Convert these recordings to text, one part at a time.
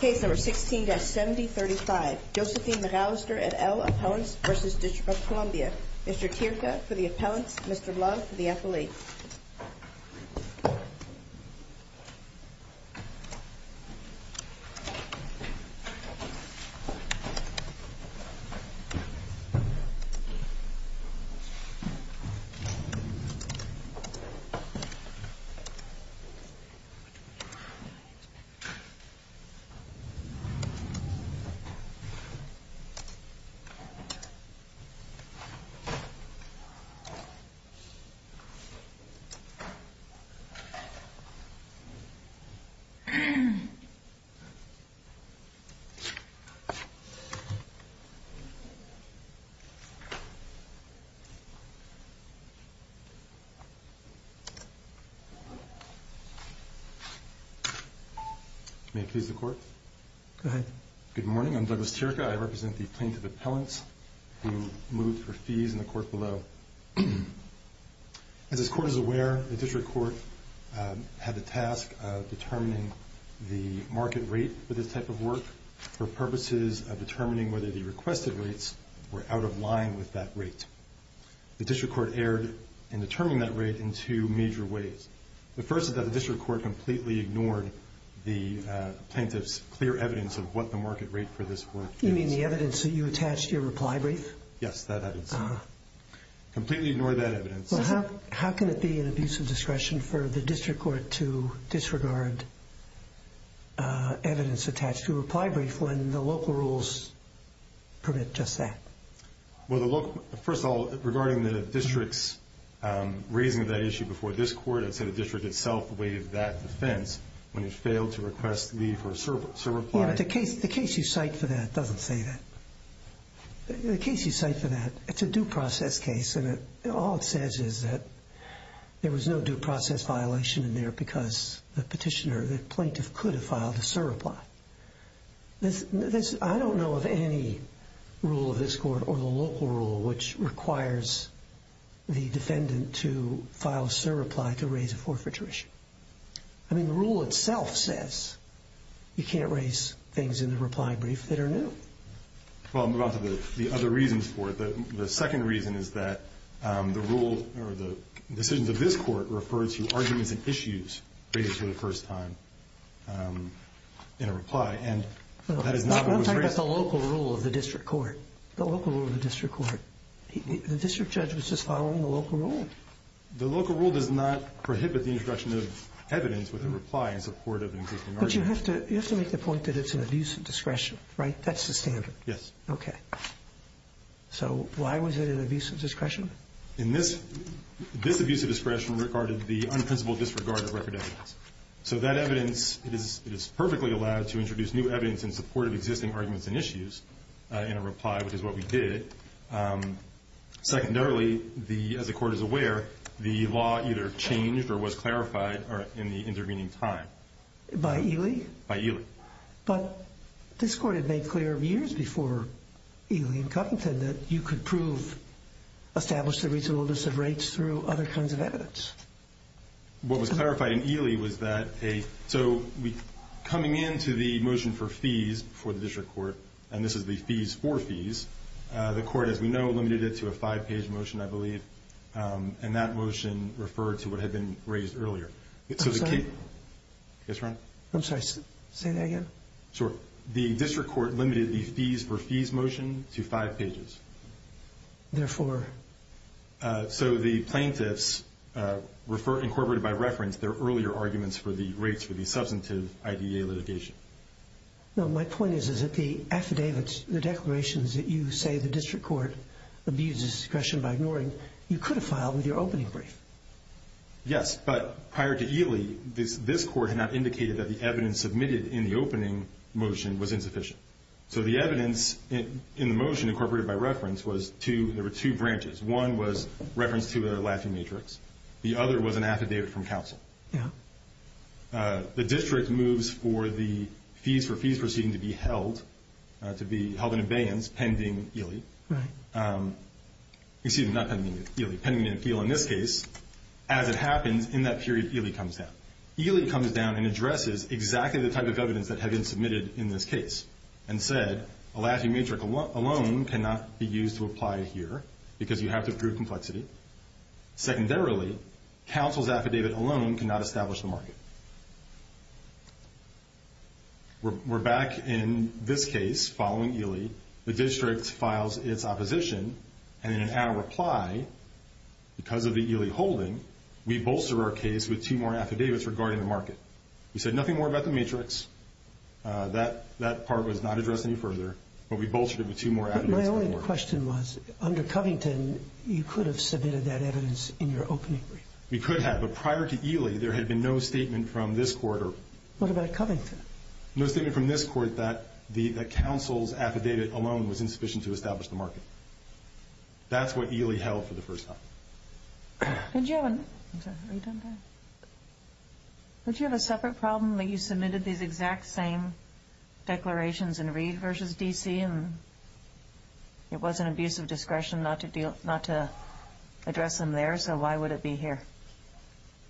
Case number 16-7035, Josephine McAllister and L. Appellants v. District of Columbia. Mr. Tirca for the appellants, Mr. Love for the appellate. Thank you. May it please the Court? Go ahead. Good morning. I'm Douglas Tirca. I represent the plaintiff appellants who moved for fees in the Court below. As this Court is aware, the District Court had the task of determining the market rate for this type of work for purposes of determining whether the requested rates were out of line with that rate. The District Court erred in determining that rate in two major ways. The first is that the District Court completely ignored the plaintiff's clear evidence of what the market rate for this work is. You mean the evidence that you attached to your reply brief? Yes, that evidence. Completely ignored that evidence. How can it be an abuse of discretion for the District Court to disregard evidence attached to a reply brief when the local rules permit just that? Well, first of all, regarding the District's raising of that issue before this Court, I'd say the District itself waived that defense when it failed to request leave for a surreply. Yeah, but the case you cite for that doesn't say that. The case you cite for that, it's a due process case, and all it says is that there was no due process violation in there because the petitioner, the plaintiff, could have filed a surreply. I don't know of any rule of this Court or the local rule which requires the defendant to file a surreply to raise a forfeiture issue. I mean, the rule itself says you can't raise things in the reply brief that are new. Well, I'll move on to the other reasons for it. The second reason is that the rule or the decisions of this Court refer to arguments and issues raised for the first time in a reply, and that is not what was raised. I'm talking about the local rule of the District Court. The local rule of the District Court. The District Judge was just following the local rule. The local rule does not prohibit the introduction of evidence with a reply in support of an existing argument. But you have to make the point that it's an abuse of discretion, right? That's the standard. Yes. Okay. So why was it an abuse of discretion? This abuse of discretion regarded the unprincipled disregard of record evidence. So that evidence is perfectly allowed to introduce new evidence in support of existing arguments and issues in a reply, which is what we did. Secondarily, as the Court is aware, the law either changed or was clarified in the intervening time. By Ely? By Ely. But this Court had made clear years before Ely and Covington that you could prove established the reasonableness of rates through other kinds of evidence. What was clarified in Ely was that a – so coming into the motion for fees for the District Court, and this is the fees for fees, the Court, as we know, limited it to a five-page motion, I believe, and that motion referred to what had been raised earlier. I'm sorry. Yes, Ron? I'm sorry. Say that again. Sure. The District Court limited the fees for fees motion to five pages. Therefore? So the plaintiffs incorporated by reference their earlier arguments for the rates for the substantive IDA litigation. No, my point is that the affidavits, the declarations that you say the District Court abused of discretion by ignoring, you could have filed with your opening brief. Yes, but prior to Ely, this Court had not indicated that the evidence submitted in the opening motion was insufficient. So the evidence in the motion incorporated by reference was two – there were two branches. One was reference to a Latin matrix. The other was an affidavit from counsel. Yeah. The District moves for the fees for fees proceeding to be held, to be held in abeyance pending Ely. Right. Excuse me. Not pending Ely. Pending an appeal in this case. As it happens, in that period, Ely comes down. Ely comes down and addresses exactly the type of evidence that had been submitted in this case and said a Latin matrix alone cannot be used to apply here because you have to prove complexity. Secondarily, counsel's affidavit alone cannot establish the market. We're back in this case following Ely. The District files its opposition, and in our reply, because of the Ely holding, we bolster our case with two more affidavits regarding the market. We said nothing more about the matrix. That part was not addressed any further, but we bolstered it with two more affidavits. My only question was, under Covington, you could have submitted that evidence in your opening brief. We could have, but prior to Ely, there had been no statement from this Court. What about Covington? No statement from this Court that counsel's affidavit alone was insufficient to establish the market. That's what Ely held for the first time. Did you have a separate problem that you submitted these exact same declarations in Reed v. D.C. and it was an abuse of discretion not to address them there, so why would it be here?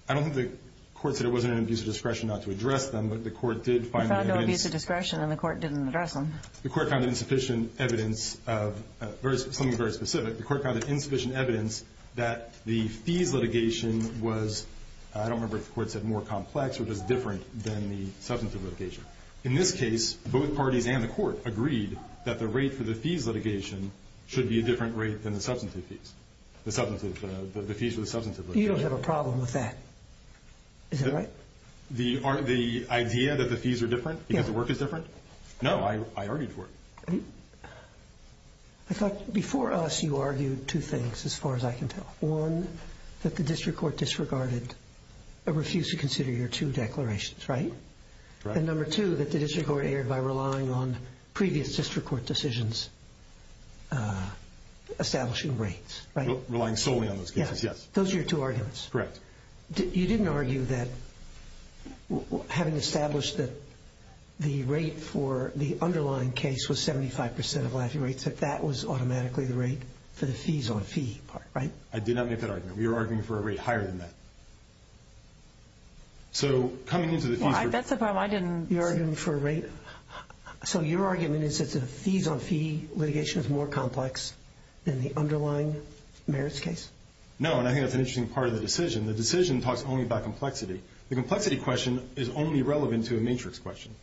I don't think the Court said it was an abuse of discretion not to address them, but the Court did find the evidence. It was an abuse of discretion and the Court didn't address them. The Court found insufficient evidence of something very specific. The Court found insufficient evidence that the fees litigation was, I don't remember if the Court said more complex, or just different than the substantive litigation. In this case, both parties and the Court agreed that the rate for the fees litigation should be a different rate than the substantive fees, the fees for the substantive litigation. You don't have a problem with that. Is that right? The idea that the fees are different because the work is different? No, I argued for it. I thought before us you argued two things as far as I can tell. One, that the district court disregarded or refused to consider your two declarations, right? And number two, that the district court erred by relying on previous district court decisions establishing rates, right? Relying solely on those cases, yes. Those are your two arguments. Correct. You didn't argue that, having established that the rate for the underlying case was 75% of Lafey rates, that that was automatically the rate for the fees on fee part, right? I did not make that argument. We were arguing for a rate higher than that. So coming into the fees... I bet that's a problem. I didn't... You're arguing for a rate... So your argument is that the fees on fee litigation is more complex than the underlying merits case? No, and I think that's an interesting part of the decision. The decision talks only about complexity. The complexity question is only relevant to a matrix question.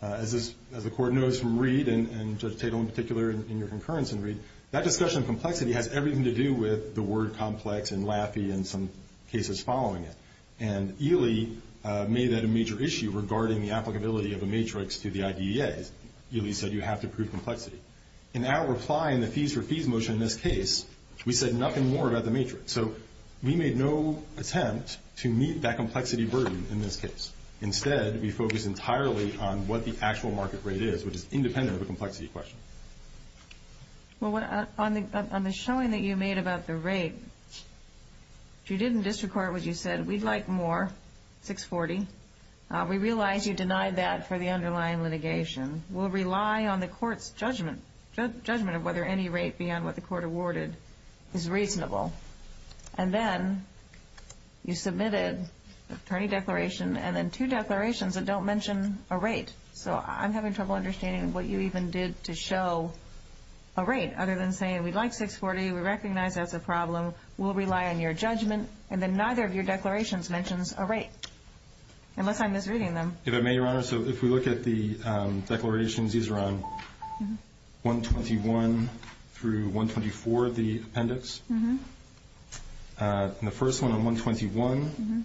As the court knows from Reed, and Judge Tatel in particular in your concurrence in Reed, that discussion of complexity has everything to do with the word complex and Lafey and some cases following it. And Ely made that a major issue regarding the applicability of a matrix to the IDEAs. Ely said you have to prove complexity. In our reply in the fees for fees motion in this case, we said nothing more about the matrix. So we made no attempt to meet that complexity burden in this case. Instead, we focused entirely on what the actual market rate is, which is independent of the complexity question. Well, on the showing that you made about the rate, if you didn't disregard what you said, we'd like more, 640. We realize you denied that for the underlying litigation. We'll rely on the court's judgment of whether any rate beyond what the court awarded is reasonable. And then you submitted an attorney declaration and then two declarations that don't mention a rate. So I'm having trouble understanding what you even did to show a rate other than saying we'd like 640. We recognize that's a problem. We'll rely on your judgment. And then neither of your declarations mentions a rate, unless I'm misreading them. If I may, Your Honor, so if we look at the declarations, these are on 121 through 124 of the appendix. And the first one on 121. It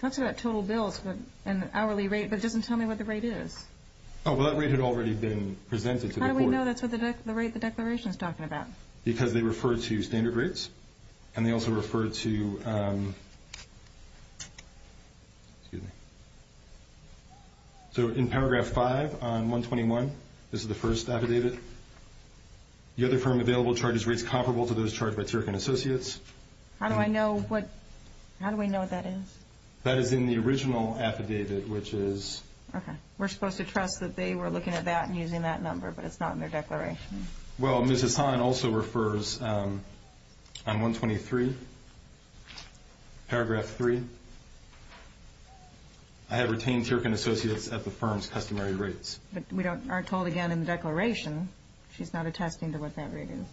talks about total bills and hourly rate, but it doesn't tell me what the rate is. Oh, well, that rate had already been presented to the court. How do we know that's what the rate of the declaration is talking about? Because they refer to standard rates, and they also refer to, excuse me. So in paragraph 5 on 121, this is the first affidavit. The other firm available charges rates comparable to those charged by Turk & Associates. How do I know what, how do we know what that is? That is in the original affidavit, which is. Okay. We're supposed to trust that they were looking at that and using that number, but it's not in their declaration. Well, Ms. Hassan also refers on 123, paragraph 3. I have retained Turk & Associates at the firm's customary rates. But we are told again in the declaration she's not attesting to what that rate is.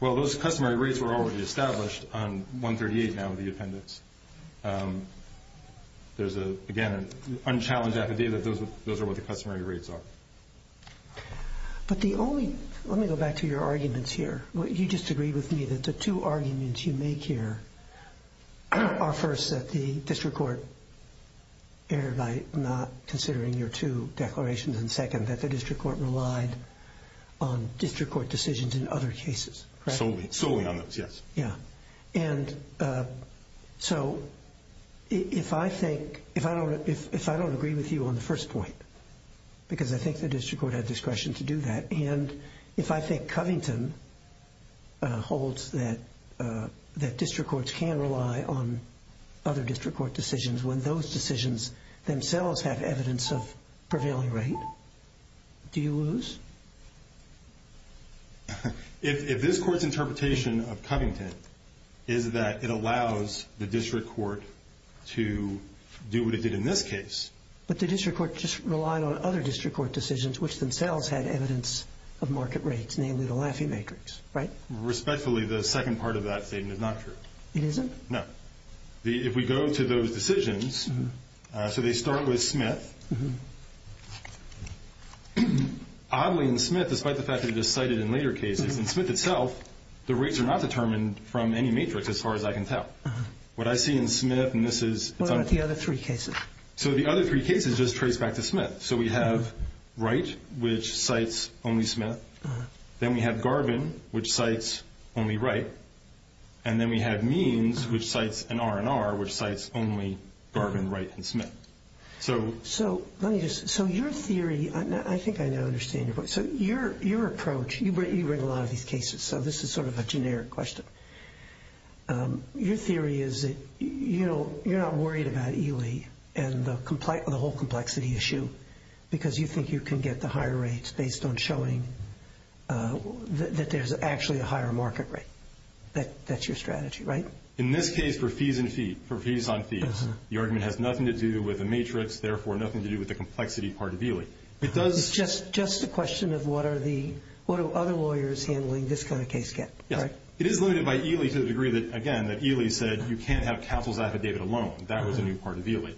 Well, those customary rates were already established on 138 now with the appendix. There's, again, an unchallenged affidavit. Those are what the customary rates are. But the only, let me go back to your arguments here. You just agreed with me that the two arguments you make here are, first, that the district court erred by not considering your two declarations, and second, that the district court relied on district court decisions in other cases. Solely on those, yes. Yeah. And so if I think, if I don't agree with you on the first point, because I think the district court had discretion to do that, and if I think Covington holds that district courts can rely on other district court decisions when those decisions themselves have evidence of prevailing rate, do you lose? If this court's interpretation of Covington is that it allows the district court to do what it did in this case. But the district court just relied on other district court decisions, which themselves had evidence of market rates, namely the Laffey matrix, right? Respectfully, the second part of that statement is not true. It isn't? No. If we go to those decisions, so they start with Smith. Oddly, in Smith, despite the fact that it is cited in later cases, in Smith itself, the rates are not determined from any matrix as far as I can tell. What I see in Smith, and this is- What about the other three cases? So the other three cases just trace back to Smith. So we have Wright, which cites only Smith. Then we have Garvin, which cites only Wright. And then we have Means, which cites an R&R, which cites only Garvin, Wright, and Smith. So your theory, I think I now understand your point. So your approach, you bring a lot of these cases, so this is sort of a generic question. Your theory is that you're not worried about Ely and the whole complexity issue because you think you can get the higher rates based on showing that there's actually a higher market rate. That's your strategy, right? In this case, for fees on fees, the argument has nothing to do with a matrix, therefore nothing to do with the complexity part of Ely. It's just a question of what do other lawyers handling this kind of case get, right? It is limited by Ely to the degree that, again, that Ely said you can't have counsel's affidavit alone. That was a new part of Ely.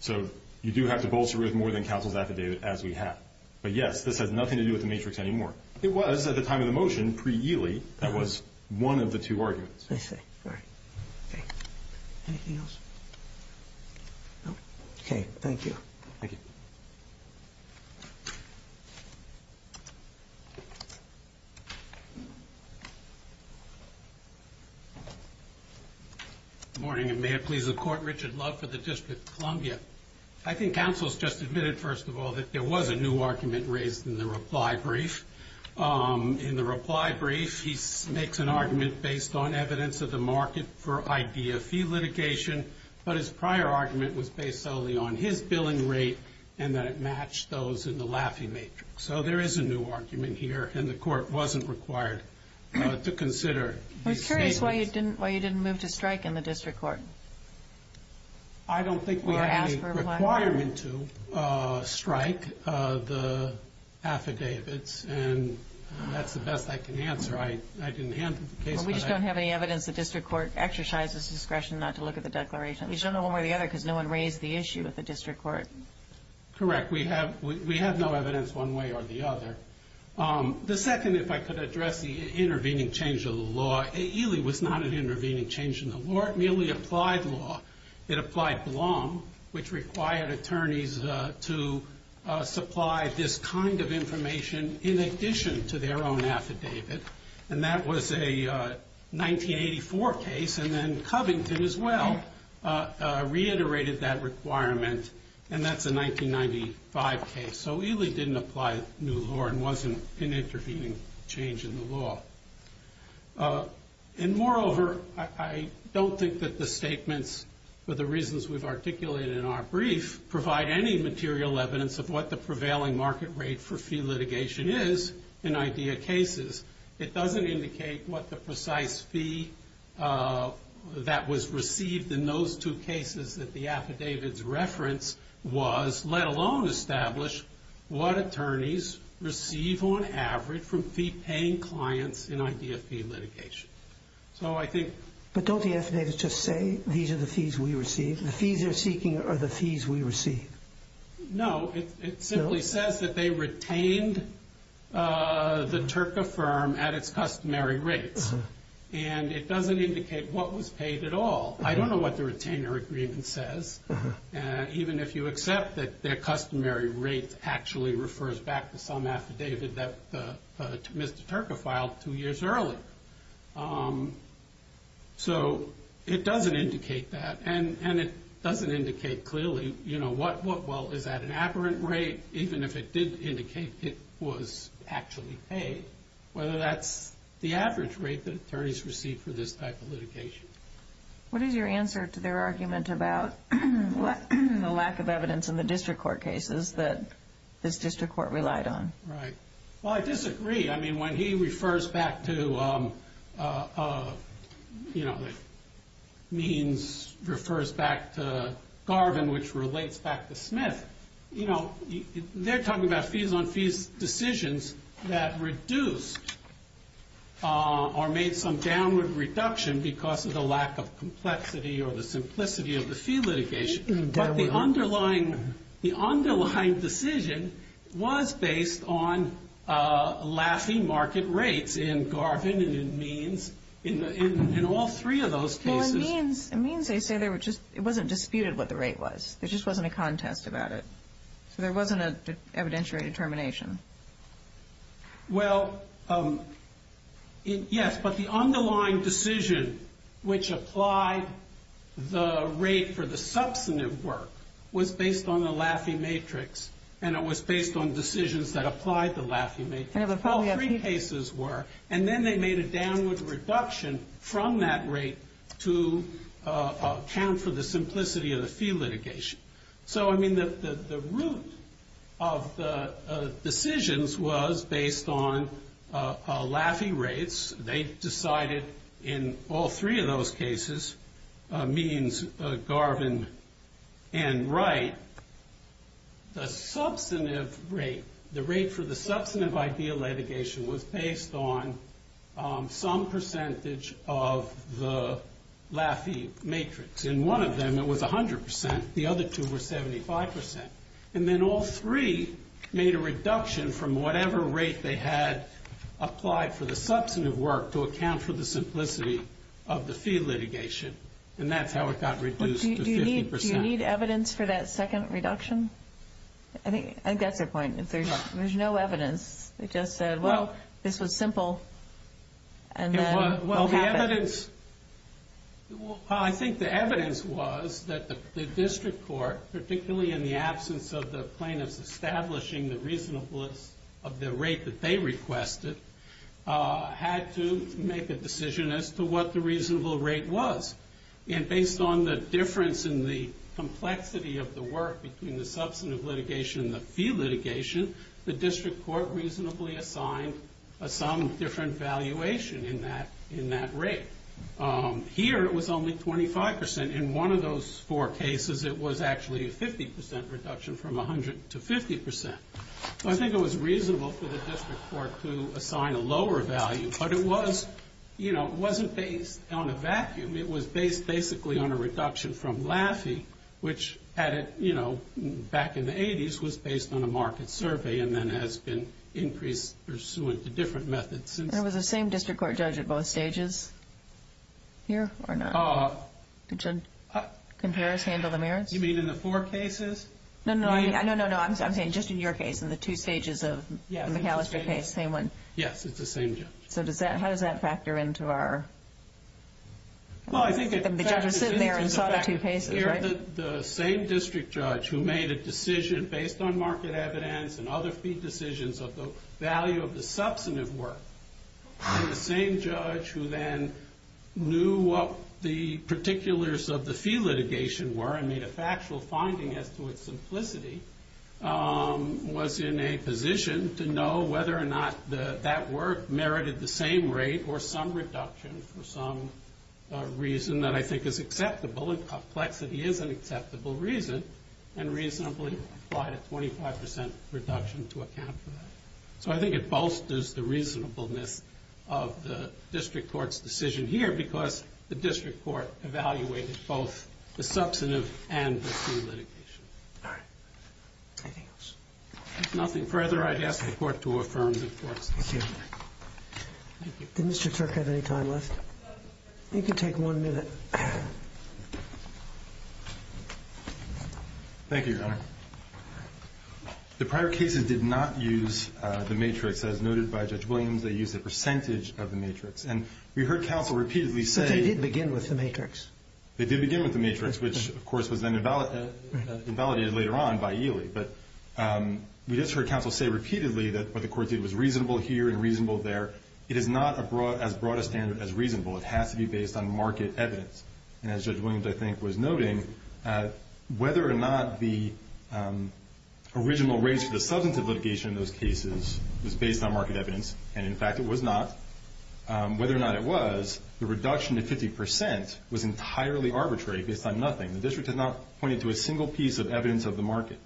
So you do have to bolster it with more than counsel's affidavit as we have. But, yes, this has nothing to do with the matrix anymore. It was at the time of the motion, pre-Ely, that was one of the two arguments. I see. All right. Anything else? Okay. Thank you. Thank you. Good morning, and may it please the Court. Richard Love for the District of Columbia. I think counsel's just admitted, first of all, that there was a new argument raised in the reply brief. In the reply brief, he makes an argument based on evidence of the market for idea fee litigation, but his prior argument was based solely on his billing rate and that it matched those in the Laffey matrix. So there is a new argument here, and the Court wasn't required to consider these statements. I'm curious why you didn't move to strike in the district court. I don't think we have any requirement to strike the affidavits, and that's the best I can answer. I didn't handle the case, but I can. We just don't have any evidence the district court exercised its discretion not to look at the declaration. At least not one way or the other because no one raised the issue at the district court. Correct. We have no evidence one way or the other. The second, if I could address the intervening change of the law, it really was not an intervening change in the law. It merely applied law. It applied Blum, which required attorneys to supply this kind of information in addition to their own affidavit, and that was a 1984 case, and then Covington as well reiterated that requirement, and that's a 1995 case. So it really didn't apply new law and wasn't an intervening change in the law. And moreover, I don't think that the statements, for the reasons we've articulated in our brief, provide any material evidence of what the prevailing market rate for fee litigation is in IDEA cases. It doesn't indicate what the precise fee that was received in those two cases that the affidavit's reference was, let alone establish what attorneys receive on average from fee-paying clients in IDEA fee litigation. But don't the affidavits just say these are the fees we receive? The fees they're seeking are the fees we receive. No, it simply says that they retained the Turka firm at its customary rates, and it doesn't indicate what was paid at all. I don't know what the retainer agreement says, even if you accept that their customary rate actually refers back to some affidavit that Mr. Turka filed two years early. So it doesn't indicate that, and it doesn't indicate clearly, you know, well, is that an apparent rate, even if it did indicate it was actually paid, whether that's the average rate that attorneys receive for this type of litigation. What is your answer to their argument about the lack of evidence in the district court cases that this district court relied on? Right. Well, I disagree. I mean, when he refers back to, you know, means, refers back to Garvin, which relates back to Smith, you know, they're talking about fees-on-fees decisions that reduced or made some downward reduction because of the lack of complexity or the simplicity of the fee litigation. But the underlying decision was based on laughing market rates in Garvin and in Means, in all three of those cases. Well, in Means they say it wasn't disputed what the rate was. There just wasn't a contest about it. So there wasn't an evidentiary determination. Well, yes. But the underlying decision which applied the rate for the substantive work was based on the laughing matrix, and it was based on decisions that applied the laughing matrix. All three cases were. And then they made a downward reduction from that rate to account for the simplicity of the fee litigation. So, I mean, the root of the decisions was based on laughing rates. They decided in all three of those cases, Means, Garvin, and Wright, the substantive rate, the rate for the substantive idea litigation was based on some percentage of the laughing matrix. In one of them it was 100 percent. The other two were 75 percent. And then all three made a reduction from whatever rate they had applied for the substantive work to account for the simplicity of the fee litigation. And that's how it got reduced to 50 percent. Do you need evidence for that second reduction? I think that's your point. If there's no evidence, they just said, well, this was simple, and then what happened? I think the evidence was that the district court, particularly in the absence of the plaintiffs establishing the reasonableness of the rate that they requested, had to make a decision as to what the reasonable rate was. And based on the difference in the complexity of the work between the substantive litigation and the fee litigation, the district court reasonably assigned some different valuation in that rate. Here it was only 25 percent. In one of those four cases it was actually a 50 percent reduction from 100 to 50 percent. So I think it was reasonable for the district court to assign a lower value, but it wasn't based on a vacuum. It was based basically on a reduction from Laffey, which back in the 80s was based on a market survey and then has been increased pursuant to different methods. And was the same district court judge at both stages here or not? Compare and handle the merits? You mean in the four cases? No, no, no. I'm saying just in your case, in the two stages of the McAllister case, same one. Yes, it's the same judge. So how does that factor into our- Well, I think- The judge was sitting there and saw the two cases, right? The same district judge who made a decision based on market evidence and other fee decisions of the value of the substantive work and the same judge who then knew what the particulars of the fee litigation were and made a factual finding as to its simplicity was in a position to know whether or not that work merited the same rate or some reduction for some reason that I think is acceptable and complexity is an acceptable reason and reasonably applied a 25% reduction to account for that. So I think it bolsters the reasonableness of the district court's decision here because the district court evaluated both the substantive and the fee litigation. All right. Anything else? If nothing further, I'd ask the Court to affirm the court's decision. Thank you. Did Mr. Turk have any time left? You can take one minute. Thank you, Your Honor. The prior cases did not use the matrix as noted by Judge Williams. They used a percentage of the matrix. And we heard counsel repeatedly say- But they did begin with the matrix. They did begin with the matrix, which, of course, was then invalidated later on by Ely. But we just heard counsel say repeatedly that what the court did was reasonable here and reasonable there. It is not as broad a standard as reasonable. It has to be based on market evidence. And as Judge Williams, I think, was noting, whether or not the original rates for the substantive litigation in those cases was based on market evidence, and in fact it was not, whether or not it was, the reduction to 50% was entirely arbitrary based on nothing. The district has not pointed to a single piece of evidence of the market.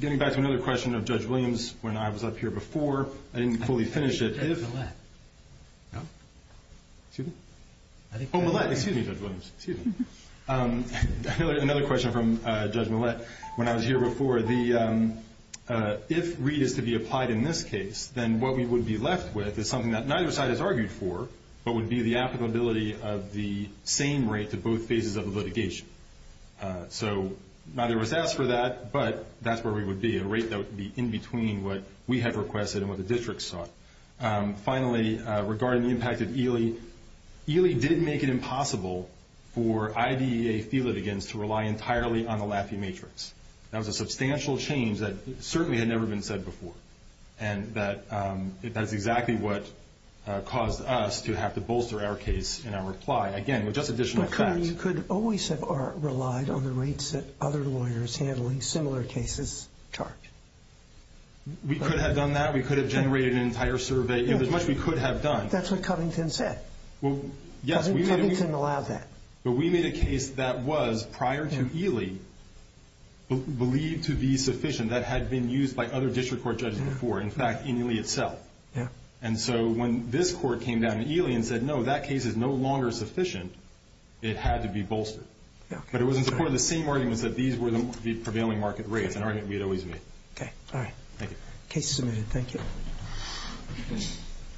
Getting back to another question of Judge Williams when I was up here before, I didn't fully finish it. I think it was Judge Millett. No? Excuse me? Oh, Millett. Excuse me, Judge Williams. Excuse me. Another question from Judge Millett when I was here before. If Reed is to be applied in this case, then what we would be left with is something that neither side has argued for, but would be the applicability of the same rate to both phases of the litigation. So neither was asked for that, but that's where we would be, a rate that would be in between what we had requested and what the district sought. Finally, regarding the impact of Ely, Ely did make it impossible for IDEA fee litigants to rely entirely on the Laffey matrix. That was a substantial change that certainly had never been said before, and that's exactly what caused us to have to bolster our case in our reply, again, with just additional facts. But, Cunningham, you could always have relied on the rates that other lawyers handling similar cases charge. We could have done that. We could have generated an entire survey. There's much we could have done. That's what Cunningham said. Doesn't Cunningham allow that? But we made a case that was, prior to Ely, believed to be sufficient that had been used by other district court judges before, in fact, in Ely itself. And so when this court came down to Ely and said, no, that case is no longer sufficient, it had to be bolstered. But it was in support of the same arguments that these were the prevailing market rates, an argument we had always made. Okay. All right. Thank you. Case submitted. Thank you.